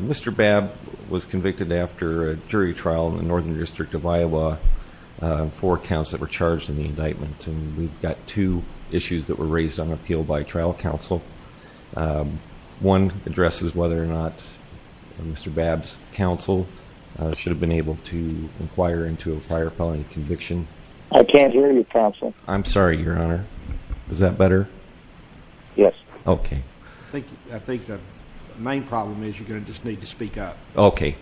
Mr. Babb was convicted after a jury trial in the Northern District of Iowa for counts that were raised on appeal by trial counsel. One addresses whether or not Mr. Babb's counsel should have been able to inquire into a prior felony conviction. I can't hear you counsel. I'm sorry, Your Honor. Is that better? Yes. Okay. I think the main problem is you're going to just need to speak up. Okay.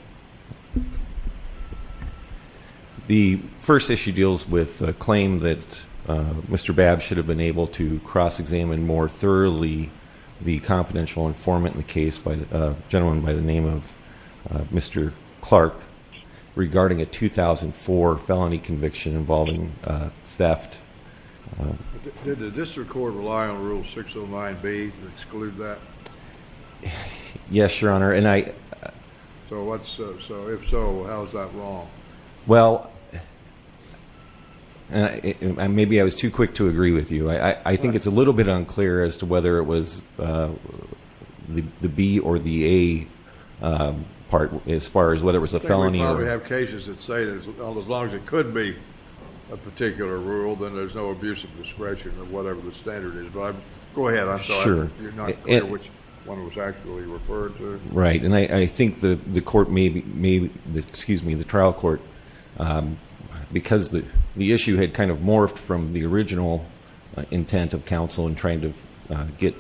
The first issue deals with a claim that Mr. Babb should have been able to cross-examine more thoroughly the confidential informant in the case, a gentleman by the name of Mr. Clark, regarding a 2004 felony conviction involving theft. Did the district court rely on Rule 609B to exclude that? Yes, Your Honor. So if so, how is that wrong? Well, maybe I was too quick to agree with you. I think it's a little bit unclear as to whether it was the B or the A part as far as whether it was a felony. I think we probably have cases that say as long as it could be a particular rule, then there's no abuse of discretion or whatever the standard is. Go ahead. Sure. I'm just not clear which one it was actually referred to. Right. And I think the trial court, because the issue had kind of morphed from the original intent of counsel in trying to get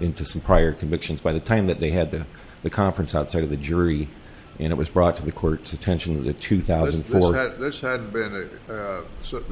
into some prior convictions, by the time that they had the conference outside of the jury and it was brought to the court's attention in 2004.